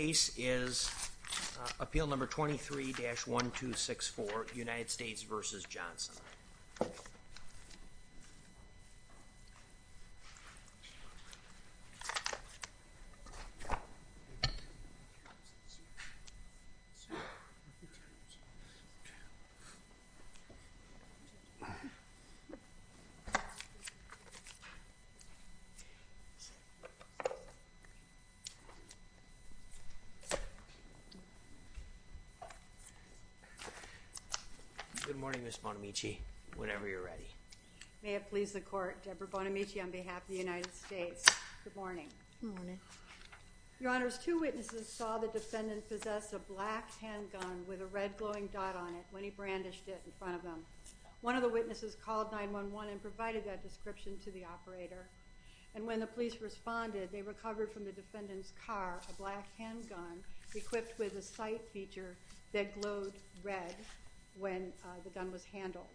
The case is appeal number 23-1264 United States v. Johnson Good morning, Ms. Bonamici, whenever you're ready. May it please the Court, Deborah Bonamici on behalf of the United States. Good morning. Good morning. Your Honors, two witnesses saw the defendant possess a black handgun with a red glowing dot on it when he brandished it in front of them. One of the witnesses called 911 and provided that description to the operator. And when the police responded, they recovered from the defendant's car a black handgun equipped with a sight feature that glowed red when the gun was handled.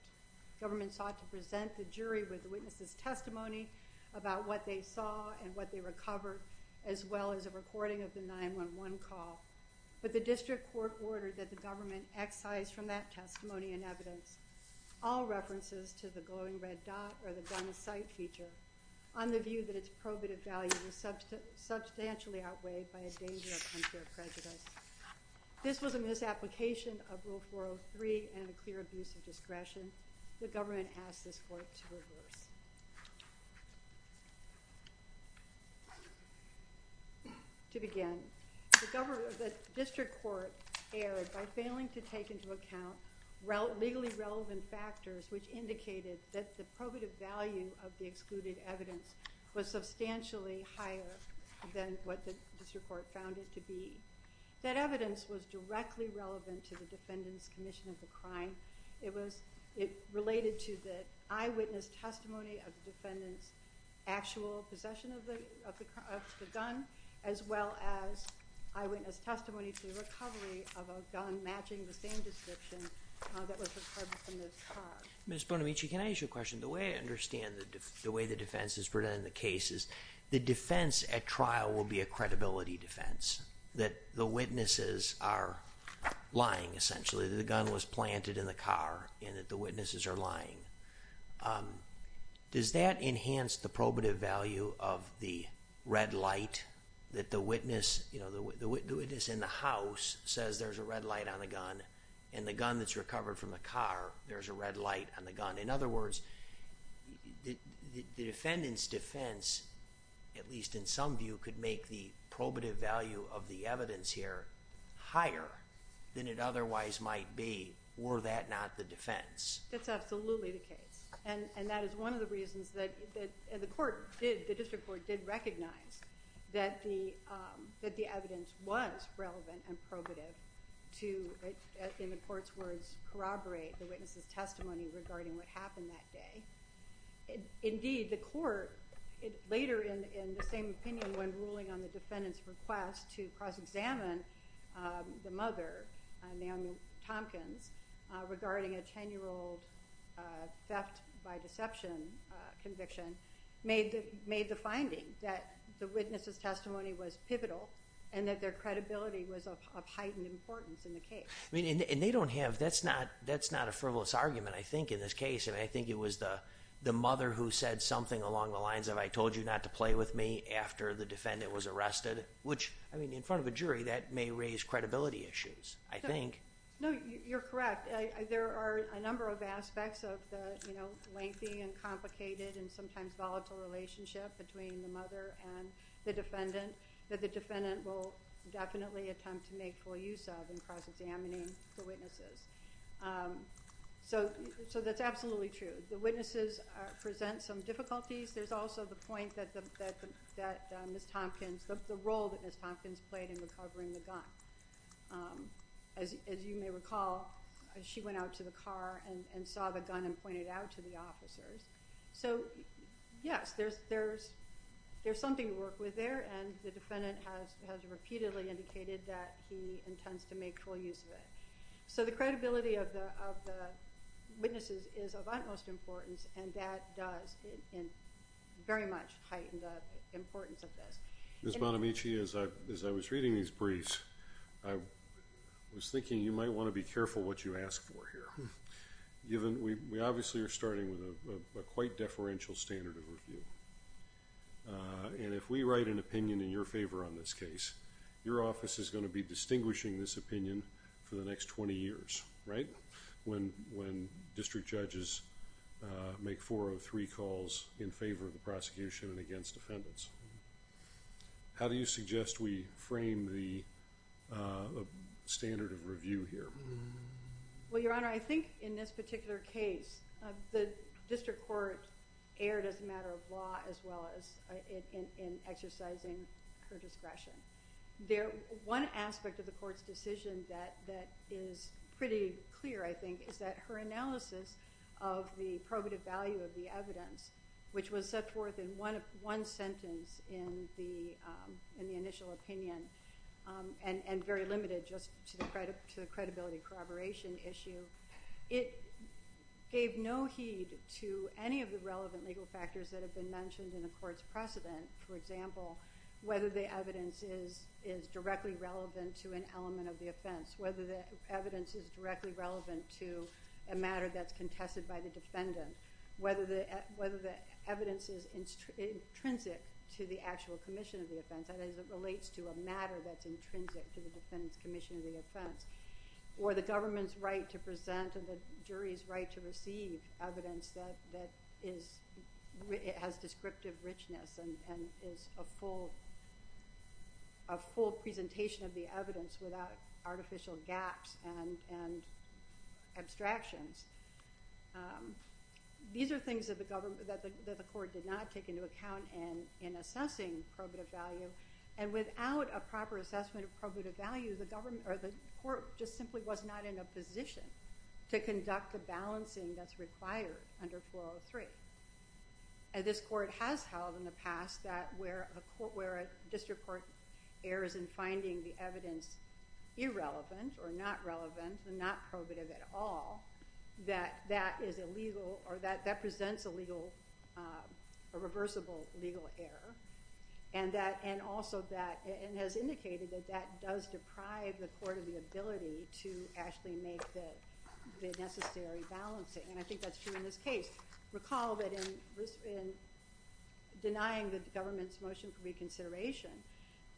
The government sought to present the jury with the witness's testimony about what they saw and what they recovered, as well as a recording of the 911 call. But the district court ordered that the government excise from that testimony and evidence all references to the glowing red dot or the gun's sight feature. On the view that its probative value was substantially outweighed by a danger of unfair prejudice. This was a misapplication of Rule 403 and a clear abuse of discretion. The government asked this court to reverse. To begin, the district court erred by failing to take into account legally relevant factors which indicated that the probative value of the excluded evidence was substantially higher than what the district court found it to be. That evidence was directly relevant to the defendant's commission of the crime. It was related to the eyewitness testimony of the defendant's actual possession of the gun, as well as eyewitness testimony to the recovery of a gun matching the same description that was recovered from his car. Ms. Bonamici, can I ask you a question? The way I understand the way the defense is presented in the case is the defense at trial will be a credibility defense. That the witnesses are lying, essentially, that the gun was planted in the car and that the witnesses are lying. Does that enhance the probative value of the red light that the witness in the house says there's a red light on the gun and the gun that's recovered from the car, there's a red light on the gun? In other words, the defendant's defense, at least in some view, could make the probative value of the evidence here higher than it otherwise might be were that not the defense. That's absolutely the case. And that is one of the reasons that the district court did recognize that the evidence was relevant and probative to, in the court's words, corroborate the witness's testimony regarding what happened that day. Indeed, the court, later in the same opinion when ruling on the defendant's request to cross-examine the mother, Naomi Tompkins, regarding a 10-year-old theft by deception conviction, made the finding that the witness's testimony was pivotal and that their credibility was of heightened importance in the case. That's not a frivolous argument, I think, in this case. I think it was the mother who said something along the lines of, I told you not to play with me after the defendant was arrested, which, in front of a jury, that may raise credibility issues, I think. No, you're correct. There are a number of aspects of the lengthy and complicated and sometimes volatile relationship between the mother and the defendant that the defendant will definitely attempt to make full use of in cross-examining the witnesses. So that's absolutely true. The witnesses present some difficulties. There's also the point that Ms. Tompkins, the role that Ms. Tompkins played in recovering the gun. As you may recall, she went out to the car and saw the gun and pointed it out to the officers. So, yes, there's something to work with there, and the defendant has repeatedly indicated that he intends to make full use of it. So the credibility of the witnesses is of utmost importance, and that does very much heighten the importance of this. Ms. Bonamici, as I was reading these briefs, I was thinking you might want to be careful what you ask for here. We obviously are starting with a quite deferential standard of review, and if we write an opinion in your favor on this case, your office is going to be distinguishing this opinion for the next 20 years, right? When district judges make 403 calls in favor of the prosecution and against defendants. How do you suggest we frame the standard of review here? Well, Your Honor, I think in this particular case, the district court erred as a matter of law as well as in exercising her discretion. One aspect of the court's decision that is pretty clear, I think, is that her analysis of the probative value of the evidence, which was set forth in one sentence in the initial opinion and very limited just to the credibility corroboration issue, it gave no heed to any of the relevant legal factors that have been mentioned in the court's precedent. For example, whether the evidence is directly relevant to an element of the offense, whether the evidence is directly relevant to a matter that's contested by the defendant, whether the evidence is intrinsic to the actual commission of the offense, that is, it relates to a matter that's intrinsic to the defendant's commission of the offense, or the government's right to present and the jury's right to receive evidence that has descriptive richness and is a full presentation of the evidence without artificial gaps and abstractions. These are things that the court did not take into account in assessing probative value, and without a proper assessment of probative value, the court just simply was not in a position to conduct the balancing that's required under 403. This court has held in the past that where a district court errs in finding the evidence irrelevant or not relevant and not probative at all, that presents a reversible legal error, and has indicated that that does deprive the court of the ability to actually make the necessary balancing, and I think that's true in this case. I recall that in denying the government's motion for reconsideration,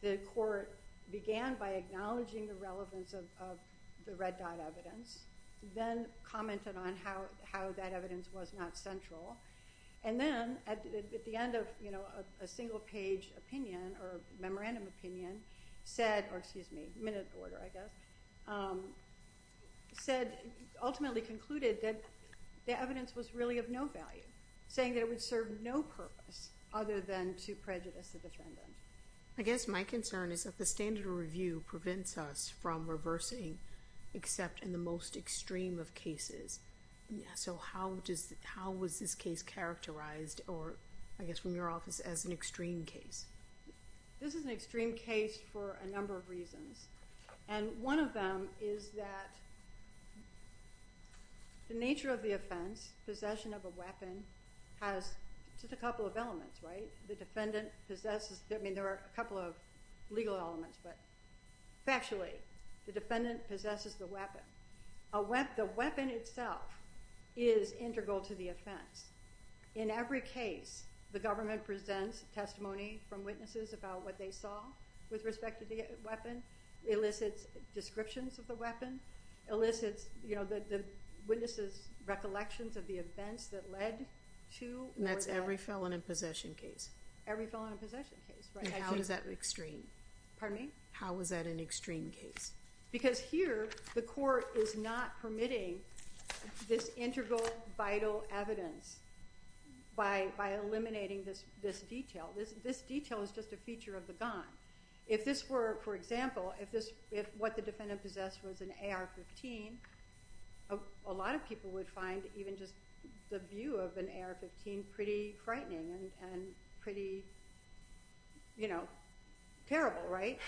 the court began by acknowledging the relevance of the red dot evidence, then commented on how that evidence was not central, and then at the end of a single page opinion, or memorandum opinion, said, or excuse me, minute order I guess, said, ultimately concluded that the evidence was really of no value, saying that it would serve no purpose other than to prejudice the defendant. I guess my concern is that the standard of review prevents us from reversing except in the most extreme of cases, so how was this case characterized, or I guess from your office, as an extreme case? This is an extreme case for a number of reasons, and one of them is that the nature of the offense, possession of a weapon, has just a couple of elements, right? The defendant possesses, I mean there are a couple of legal elements, but factually, the defendant possesses the weapon. The weapon itself is integral to the offense. In every case, the government presents testimony from witnesses about what they saw with respect to the weapon, elicits descriptions of the weapon, elicits the witnesses' recollections of the events that led to or that. And that's every felon in possession case? Every felon in possession case, right. And how is that extreme? Pardon me? How is that an extreme case? Because here, the court is not permitting this integral, vital evidence by eliminating this detail. This detail is just a feature of the gun. If this were, for example, if what the defendant possessed was an AR-15, a lot of people would find even just the view of an AR-15 pretty frightening and pretty, you know, terrible, right?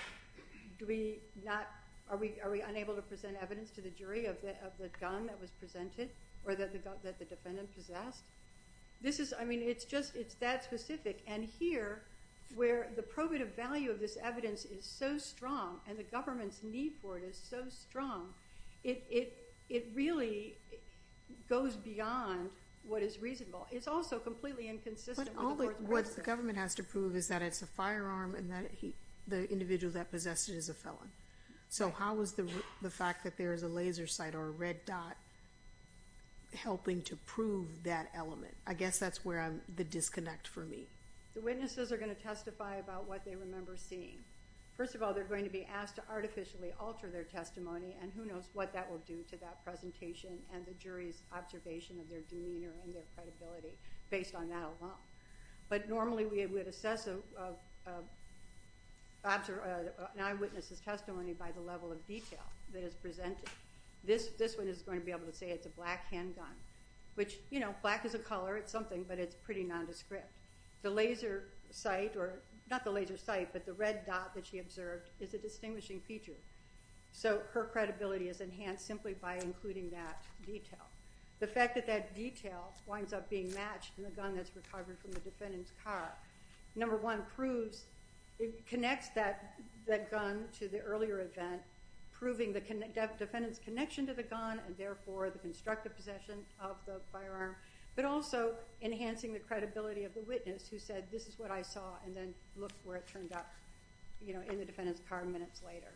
Do we not, are we unable to present evidence to the jury of the gun that was presented or that the defendant possessed? This is, I mean, it's just, it's that specific. And here, where the probative value of this evidence is so strong and the government's need for it is so strong, it really goes beyond what is reasonable. It's also completely inconsistent with the court's process. What the government has to prove is that it's a firearm and that the individual that possessed it is a felon. So how is the fact that there is a laser sight or a red dot helping to prove that element? I guess that's where I'm, the disconnect for me. The witnesses are going to testify about what they remember seeing. First of all, they're going to be asked to artificially alter their testimony, and who knows what that will do to that presentation and the jury's observation of their demeanor and their credibility based on that alone. But normally we would assess an eyewitness's testimony by the level of detail that is presented. This one is going to be able to say it's a black handgun, which, you know, black is a color, it's something, but it's pretty nondescript. The laser sight, or not the laser sight, but the red dot that she observed is a distinguishing feature. So her credibility is enhanced simply by including that detail. The fact that that detail winds up being matched in the gun that's recovered from the defendant's car, number one, proves, it connects that gun to the earlier event, proving the defendant's connection to the gun and therefore the constructive possession of the firearm, but also enhancing the credibility of the witness who said, this is what I saw, and then looked where it turned up, you know, in the defendant's car minutes later.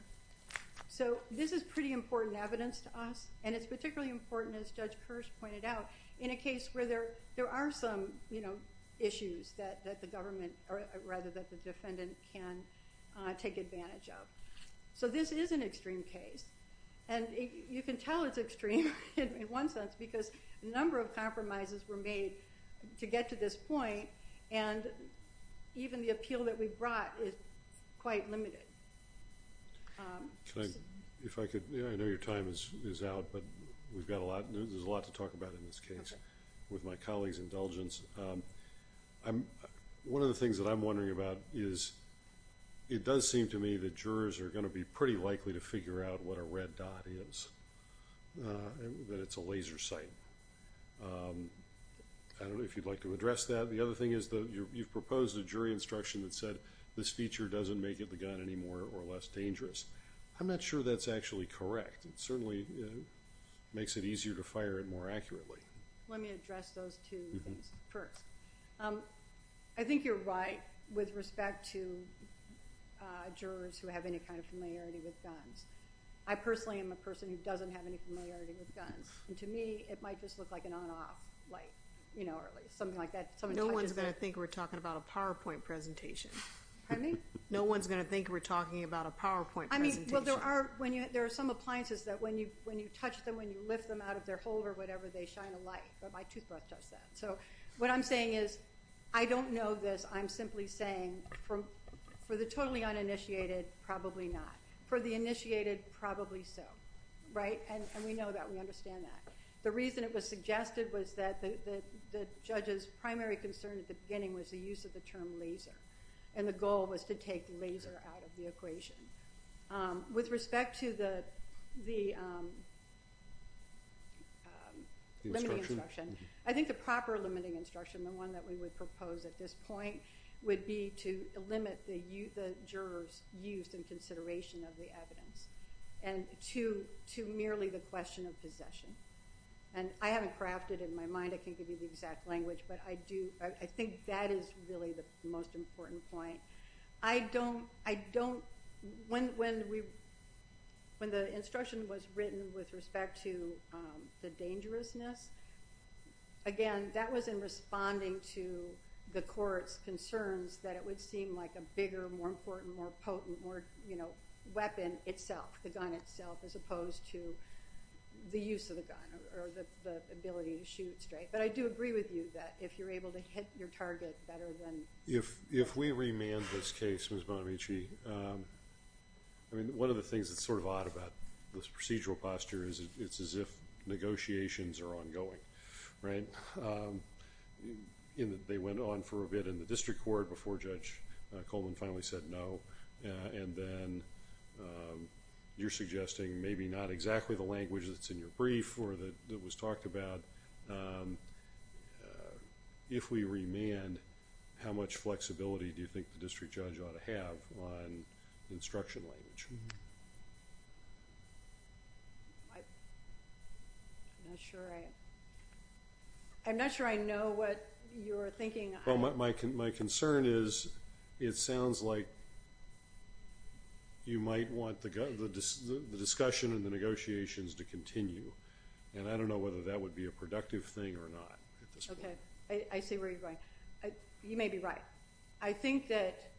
So this is pretty important evidence to us, and it's particularly important, as Judge Kirsch pointed out, in a case where there are some issues that the defendant can take advantage of. So this is an extreme case, and you can tell it's extreme in one sense because a number of compromises were made to get to this point, and even the appeal that we brought is quite limited. Can I, if I could, I know your time is out, but we've got a lot, there's a lot to talk about in this case. With my colleague's indulgence, one of the things that I'm wondering about is, it does seem to me that jurors are going to be pretty likely to figure out what a red dot is, that it's a laser sight. I don't know if you'd like to address that. The other thing is that you've proposed a jury instruction that said, this feature doesn't make it the gun anymore or less dangerous. I'm not sure that's actually correct. It certainly makes it easier to fire it more accurately. Let me address those two things first. I think you're right with respect to jurors who have any kind of familiarity with guns. I personally am a person who doesn't have any familiarity with guns, and to me, it might just look like an on-off light, or at least something like that. No one's going to think we're talking about a PowerPoint presentation. Pardon me? No one's going to think we're talking about a PowerPoint presentation. There are some appliances that when you touch them, when you lift them out of their holder or whatever, they shine a light. My toothbrush does that. What I'm saying is, I don't know this. I'm simply saying, for the totally uninitiated, probably not. For the initiated, probably so. We know that. We understand that. The reason it was suggested was that the judge's primary concern at the beginning was the use of the term laser, and the goal was to take laser out of the equation. With respect to the limiting instruction, I think the proper limiting instruction, the one that we would propose at this point, would be to limit the jurors' use and consideration of the evidence. To merely the question of possession. I haven't crafted it in my mind. I can't give you the exact language, but I think that is really the most important point. When the instruction was written with respect to the dangerousness, again, that was in responding to the court's concerns that it would seem like a bigger, more important, more potent, more weapon itself, the gun itself, as opposed to the use of the gun or the ability to shoot straight. But I do agree with you that if you're able to hit your target better than— If we remand this case, Ms. Bonamici, I mean, one of the things that's sort of odd about this procedural posture is it's as if negotiations are ongoing. They went on for a bit in the district court before Judge Coleman finally said no, and then you're suggesting maybe not exactly the language that's in your brief or that was talked about. If we remand, how much flexibility do you think the district judge ought to have on instruction language? I'm not sure I know what you're thinking. My concern is it sounds like you might want the discussion and the negotiations to continue, and I don't know whether that would be a productive thing or not at this point. I see where you're going. You may be right. I think that,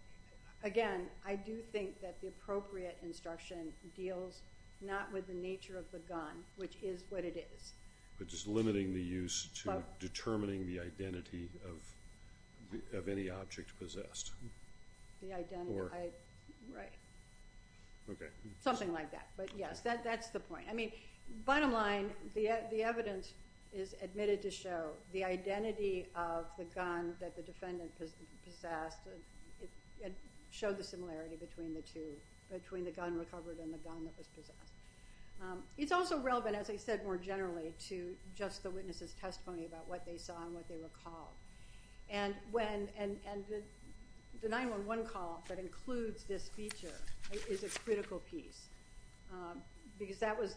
again, I do think that the appropriate instruction deals not with the nature of the gun, which is what it is. But just limiting the use to determining the identity of any object possessed. Something like that, but yes, that's the point. I mean, bottom line, the evidence is admitted to show the identity of the gun that the defendant possessed showed the similarity between the two, between the gun recovered and the gun that was possessed. It's also relevant, as I said, more generally to just the witness's testimony about what they saw and what they recalled. And the 911 call that includes this feature is a critical piece because that was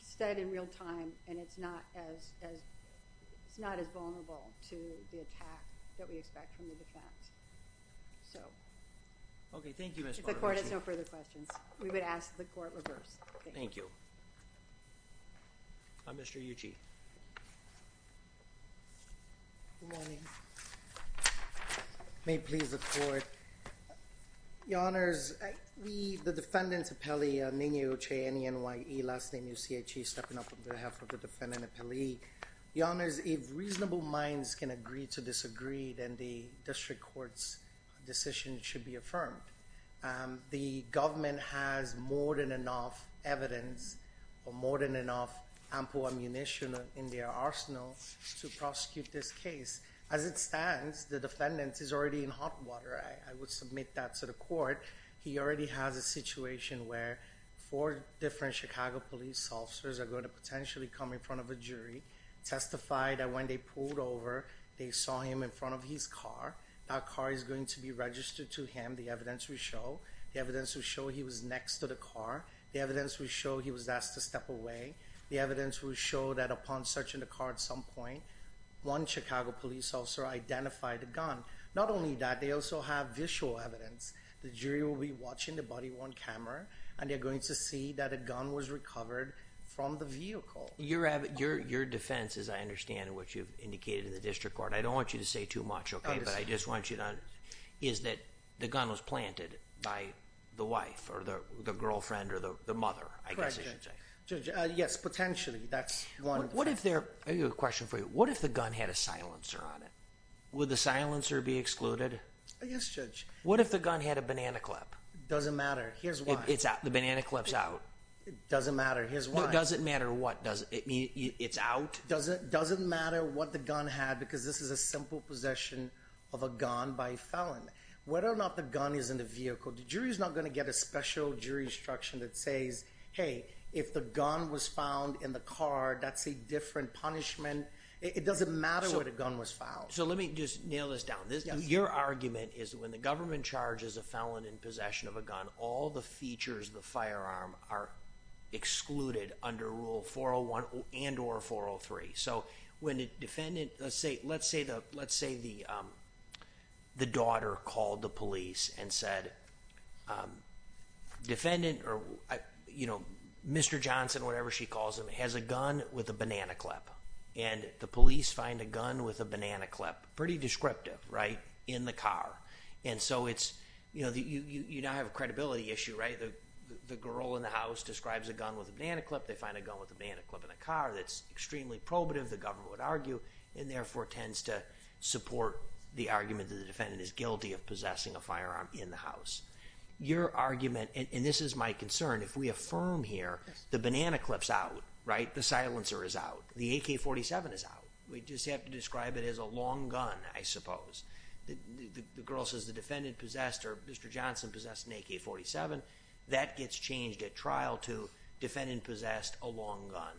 said in real time, and it's not as vulnerable to the attack that we expect from the defense. Okay, thank you, Ms. Bonamici. If the court has no further questions, we would ask the court reverse. Thank you. Mr. Ucci. Good morning. May it please the court. Your Honors, we, the defendant's appellee, Ninio Che, N-E-N-Y-E, last name U-C-H-E, stepping up on behalf of the defendant appellee. Your Honors, if reasonable minds can agree to disagree, then the district court's decision should be affirmed. The government has more than enough evidence or more than enough ample ammunition in their arsenal to prosecute this case. As it stands, the defendant is already in hot water. I would submit that to the court. He already has a situation where four different Chicago police officers are going to potentially come in front of a jury, testify that when they pulled over, they saw him in front of his car. That car is going to be registered to him. The evidence will show. The evidence will show he was next to the car. The evidence will show he was asked to step away. The evidence will show that upon searching the car at some point, one Chicago police officer identified a gun. Not only that, they also have visual evidence. The jury will be watching the body-worn camera, and they're going to see that a gun was recovered from the vehicle. Your defense, as I understand it, which you've indicated in the district court, I don't want you to say too much, okay, but I just want you to understand, is that the gun was planted by the wife or the girlfriend or the mother, I guess I should say. Judge, yes, potentially, that's one. I have a question for you. What if the gun had a silencer on it? Would the silencer be excluded? Yes, Judge. What if the gun had a banana clip? Doesn't matter. Here's why. The banana clip's out. Doesn't matter. Here's why. Doesn't matter what? It's out? Doesn't matter what the gun had because this is a simple possession of a gun by a felon. Whether or not the gun is in the vehicle, the jury's not going to get a special jurisdiction that says, hey, if the gun was found in the car, that's a different punishment. It doesn't matter what a gun was found. So let me just nail this down. Your argument is when the government charges a felon in possession of a gun, all the features of the firearm are excluded under Rule 401 and or 403. Let's say the daughter called the police and said, Mr. Johnson, whatever she calls him, has a gun with a banana clip. And the police find a gun with a banana clip, pretty descriptive, in the car. And so you now have a credibility issue. The girl in the house describes a gun with a banana clip. They find a gun with a banana clip in the car that's extremely probative, the government would argue, and therefore tends to support the argument that the defendant is guilty of possessing a firearm in the house. Your argument, and this is my concern, if we affirm here, the banana clip's out, right? The silencer is out. The AK-47 is out. We just have to describe it as a long gun, I suppose. The girl says the defendant possessed, or Mr. Johnson possessed an AK-47. That gets changed at trial to defendant possessed a long gun.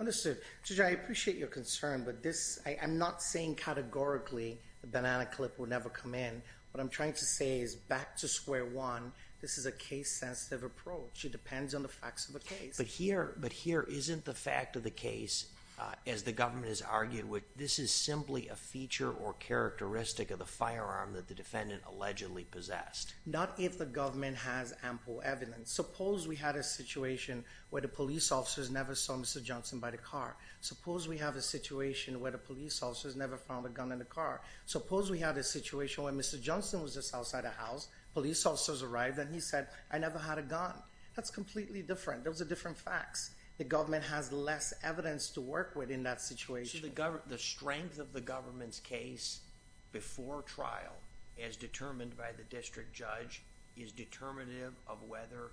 Understood. Judge, I appreciate your concern, but this, I'm not saying categorically the banana clip will never come in. What I'm trying to say is back to square one, this is a case-sensitive approach. It depends on the facts of the case. But here isn't the fact of the case, as the government has argued, this is simply a feature or characteristic of the firearm that the defendant allegedly possessed. Not if the government has ample evidence. Suppose we had a situation where the police officers never saw Mr. Johnson by the car. Suppose we have a situation where the police officers never found a gun in the car. Suppose we had a situation where Mr. Johnson was just outside the house, police officers arrived, and he said, I never had a gun. That's completely different. Those are different facts. The government has less evidence to work with in that situation. So the strength of the government's case before trial, as determined by the district judge, is determinative of whether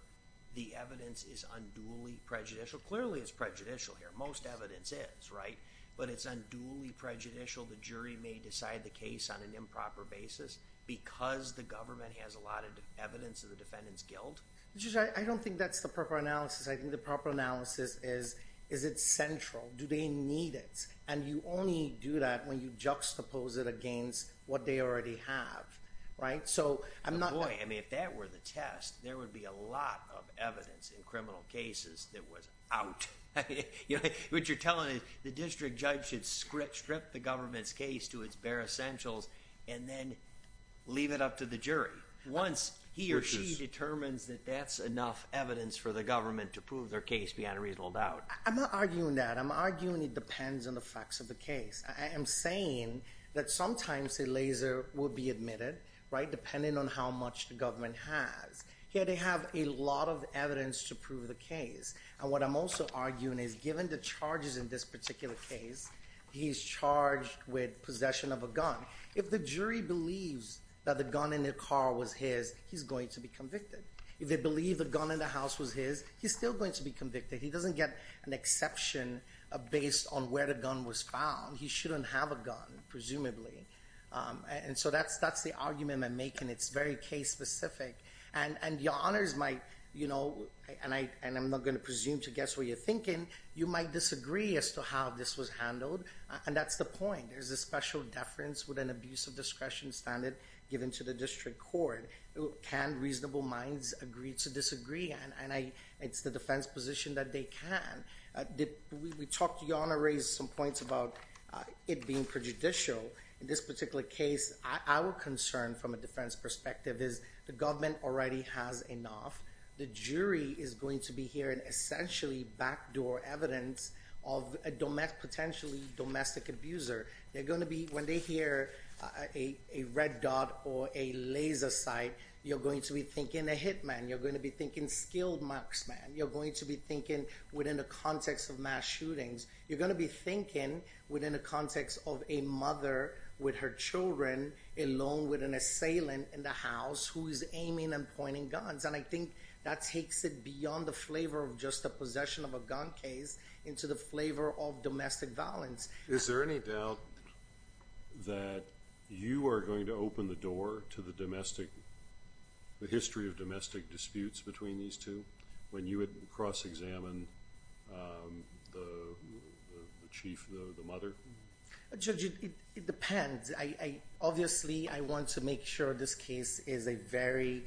the evidence is unduly prejudicial. Clearly it's prejudicial here. Most evidence is, right? But it's unduly prejudicial the jury may decide the case on an improper basis because the government has a lot of evidence of the defendant's guilt? Judge, I don't think that's the proper analysis. I think the proper analysis is, is it central? Do they need it? And you only do that when you juxtapose it against what they already have, right? So I'm not— Boy, I mean, if that were the test, there would be a lot of evidence in criminal cases that was out. What you're telling is the district judge should strip the government's case to its bare essentials and then leave it up to the jury. Once he or she determines that that's enough evidence for the government to prove their case beyond a reasonable doubt. I'm not arguing that. I'm arguing it depends on the facts of the case. I am saying that sometimes a laser will be admitted, right, depending on how much the government has. Here they have a lot of evidence to prove the case. And what I'm also arguing is given the charges in this particular case, he's charged with possession of a gun. If the jury believes that the gun in the car was his, he's going to be convicted. If they believe the gun in the house was his, he's still going to be convicted. He doesn't get an exception based on where the gun was found. He shouldn't have a gun, presumably. And so that's the argument I'm making. It's very case specific. And your honors might, you know, and I'm not going to presume to guess what you're thinking, you might disagree as to how this was handled. And that's the point. There's a special deference with an abuse of discretion standard given to the district court. Can reasonable minds agree to disagree? And it's the defense position that they can. We talked, your honor, raised some points about it being prejudicial. In this particular case, our concern from a defense perspective is the government already has enough. The jury is going to be hearing essentially backdoor evidence of a potentially domestic abuser. They're going to be, when they hear a red dot or a laser sight, you're going to be thinking a hit man. You're going to be thinking skilled marksman. You're going to be thinking within the context of mass shootings. You're going to be thinking within the context of a mother with her children along with an assailant in the house who is aiming and pointing guns. And I think that takes it beyond the flavor of just the possession of a gun case into the flavor of domestic violence. Is there any doubt that you are going to open the door to the history of domestic disputes between these two when you would cross-examine the chief, the mother? Judge, it depends. Obviously, I want to make sure this case is a very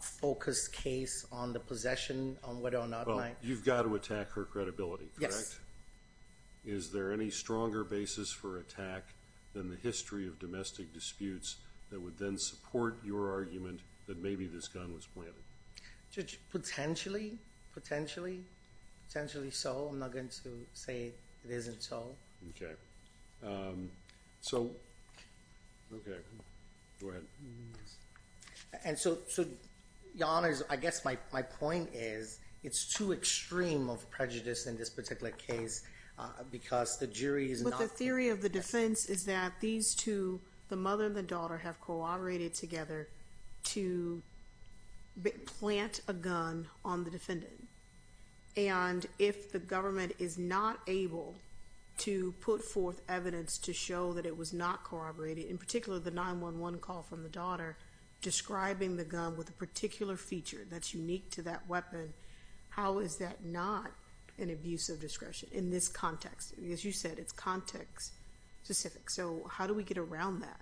focused case on the possession, on whether or not my- Well, you've got to attack her credibility, correct? Yes. Is there any stronger basis for attack than the history of domestic disputes that would then support your argument that maybe this gun was planted? Judge, potentially. Potentially. Potentially so. I'm not going to say it isn't so. Okay. So, okay. Go ahead. And so, Your Honors, I guess my point is it's too extreme of prejudice in this particular case because the jury is not- evidence to show that it was not corroborated, in particular the 911 call from the daughter describing the gun with a particular feature that's unique to that weapon. How is that not an abuse of discretion in this context? As you said, it's context-specific. So, how do we get around that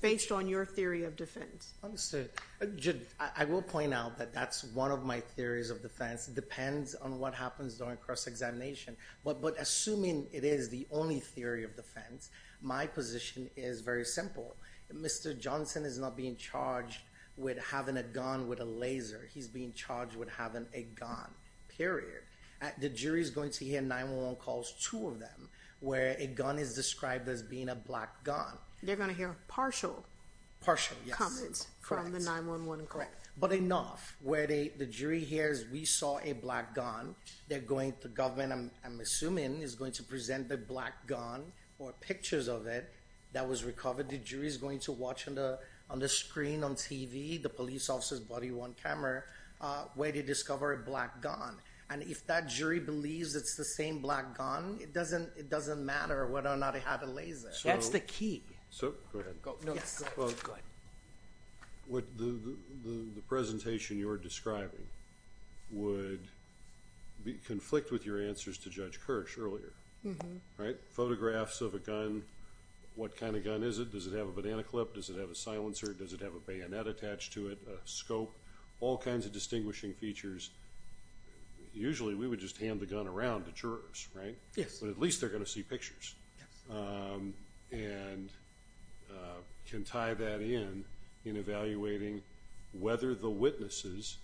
based on your theory of defense? Understood. Judge, I will point out that that's one of my theories of defense. It depends on what happens during cross-examination. But assuming it is the only theory of defense, my position is very simple. Mr. Johnson is not being charged with having a gun with a laser. He's being charged with having a gun, period. The jury is going to hear 911 calls, two of them, where a gun is described as being a black gun. They're going to hear partial- Partial, yes. Comments from the 911 call. Correct. But enough. Where the jury hears, we saw a black gun, they're going to- The government, I'm assuming, is going to present the black gun or pictures of it that was recovered. The jury is going to watch on the screen on TV, the police officer's body-worn camera, where they discover a black gun. And if that jury believes it's the same black gun, it doesn't matter whether or not it had a laser. That's the key. Go ahead. Yes, sir. Go ahead. The presentation you're describing would conflict with your answers to Judge Kirsch earlier, right? Photographs of a gun, what kind of gun is it? Does it have a banana clip? Does it have a silencer? Does it have a bayonet attached to it, a scope? All kinds of distinguishing features. Usually, we would just hand the gun around to jurors, right? Yes. But at least they're going to see pictures. Yes. And can tie that in, in evaluating whether the witnesses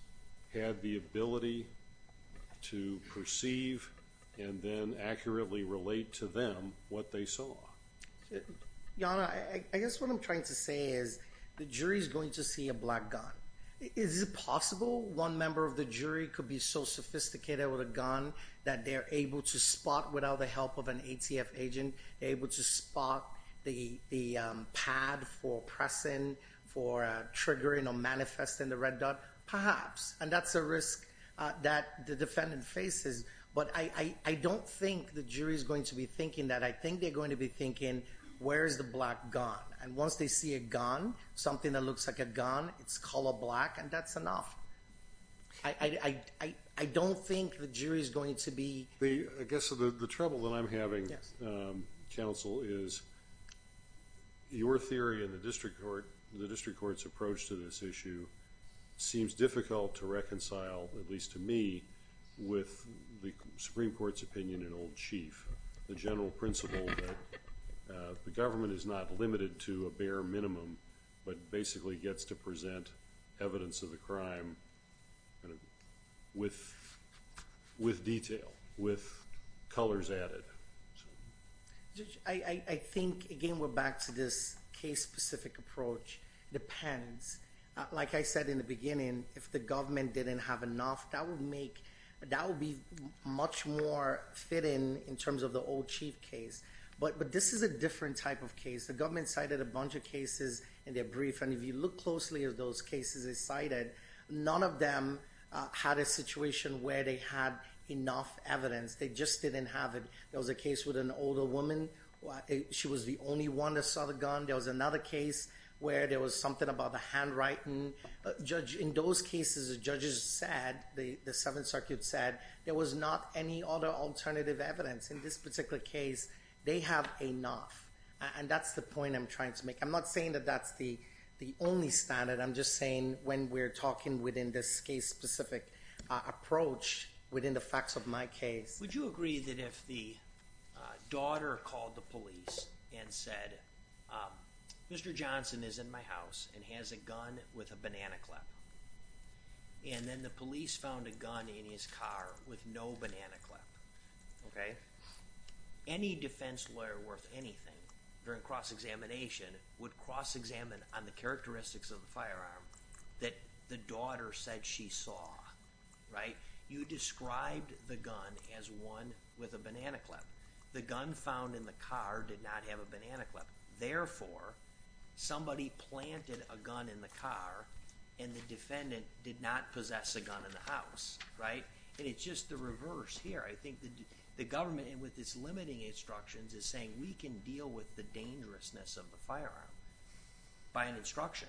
had the ability to perceive and then accurately relate to them what they saw. Jana, I guess what I'm trying to say is the jury is going to see a black gun. Is it possible one member of the jury could be so sophisticated with a gun that they're able to spot without the help of an ATF agent, able to spot the pad for pressing, for triggering or manifesting the red dot? Perhaps. And that's a risk that the defendant faces. But I don't think the jury is going to be thinking that. I think they're going to be thinking, where is the black gun? And once they see a gun, something that looks like a gun, it's color black, and that's enough. I don't think the jury is going to be… I guess the trouble that I'm having, counsel, is your theory in the district court, the district court's approach to this issue, seems difficult to reconcile, at least to me, with the Supreme Court's opinion in Old Chief, the general principle that the government is not limited to a bare minimum, but basically gets to present evidence of the crime with detail, with colors added. Judge, I think, again, we're back to this case-specific approach. It depends. Like I said in the beginning, if the government didn't have enough, that would be much more fitting in terms of the Old Chief case. But this is a different type of case. The government cited a bunch of cases in their brief, and if you look closely at those cases they cited, none of them had a situation where they had enough evidence. They just didn't have it. There was a case with an older woman. She was the only one that saw the gun. There was another case where there was something about the handwriting. In those cases, the judges said, the Seventh Circuit said, there was not any other alternative evidence. In this particular case, they have enough. And that's the point I'm trying to make. I'm not saying that that's the only standard. I'm just saying when we're talking within this case-specific approach, within the facts of my case. Would you agree that if the daughter called the police and said, Mr. Johnson is in my house and has a gun with a banana clip, and then the police found a gun in his car with no banana clip, any defense lawyer worth anything, during cross-examination, would cross-examine on the characteristics of the firearm that the daughter said she saw. You described the gun as one with a banana clip. The gun found in the car did not have a banana clip. Therefore, somebody planted a gun in the car and the defendant did not possess a gun in the house. And it's just the reverse here. I think the government, with its limiting instructions, is saying, we can deal with the dangerousness of the firearm by an instruction.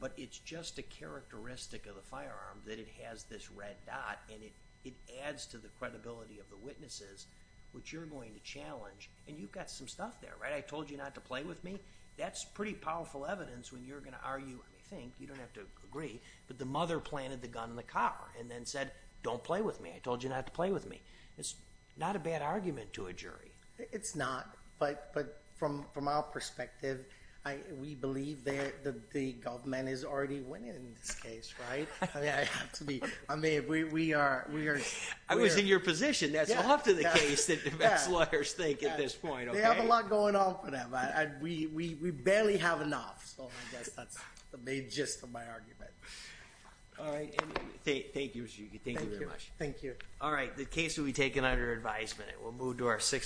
But it's just a characteristic of the firearm that it has this red dot, and it adds to the credibility of the witnesses, which you're going to challenge. And you've got some stuff there. I told you not to play with me. That's pretty powerful evidence when you're going to argue anything. You don't have to agree. But the mother planted the gun in the car and then said, don't play with me. I told you not to play with me. It's not a bad argument to a jury. It's not. But from our perspective, we believe that the government is already winning in this case, right? I mean, we are. I was in your position. That's off to the case that defense lawyers think at this point. They have a lot going on for them. We barely have enough. So I guess that's the main gist of my argument. All right. Thank you. Thank you very much. Thank you. All right. The case will be taken under advisement. We'll move to our sixth.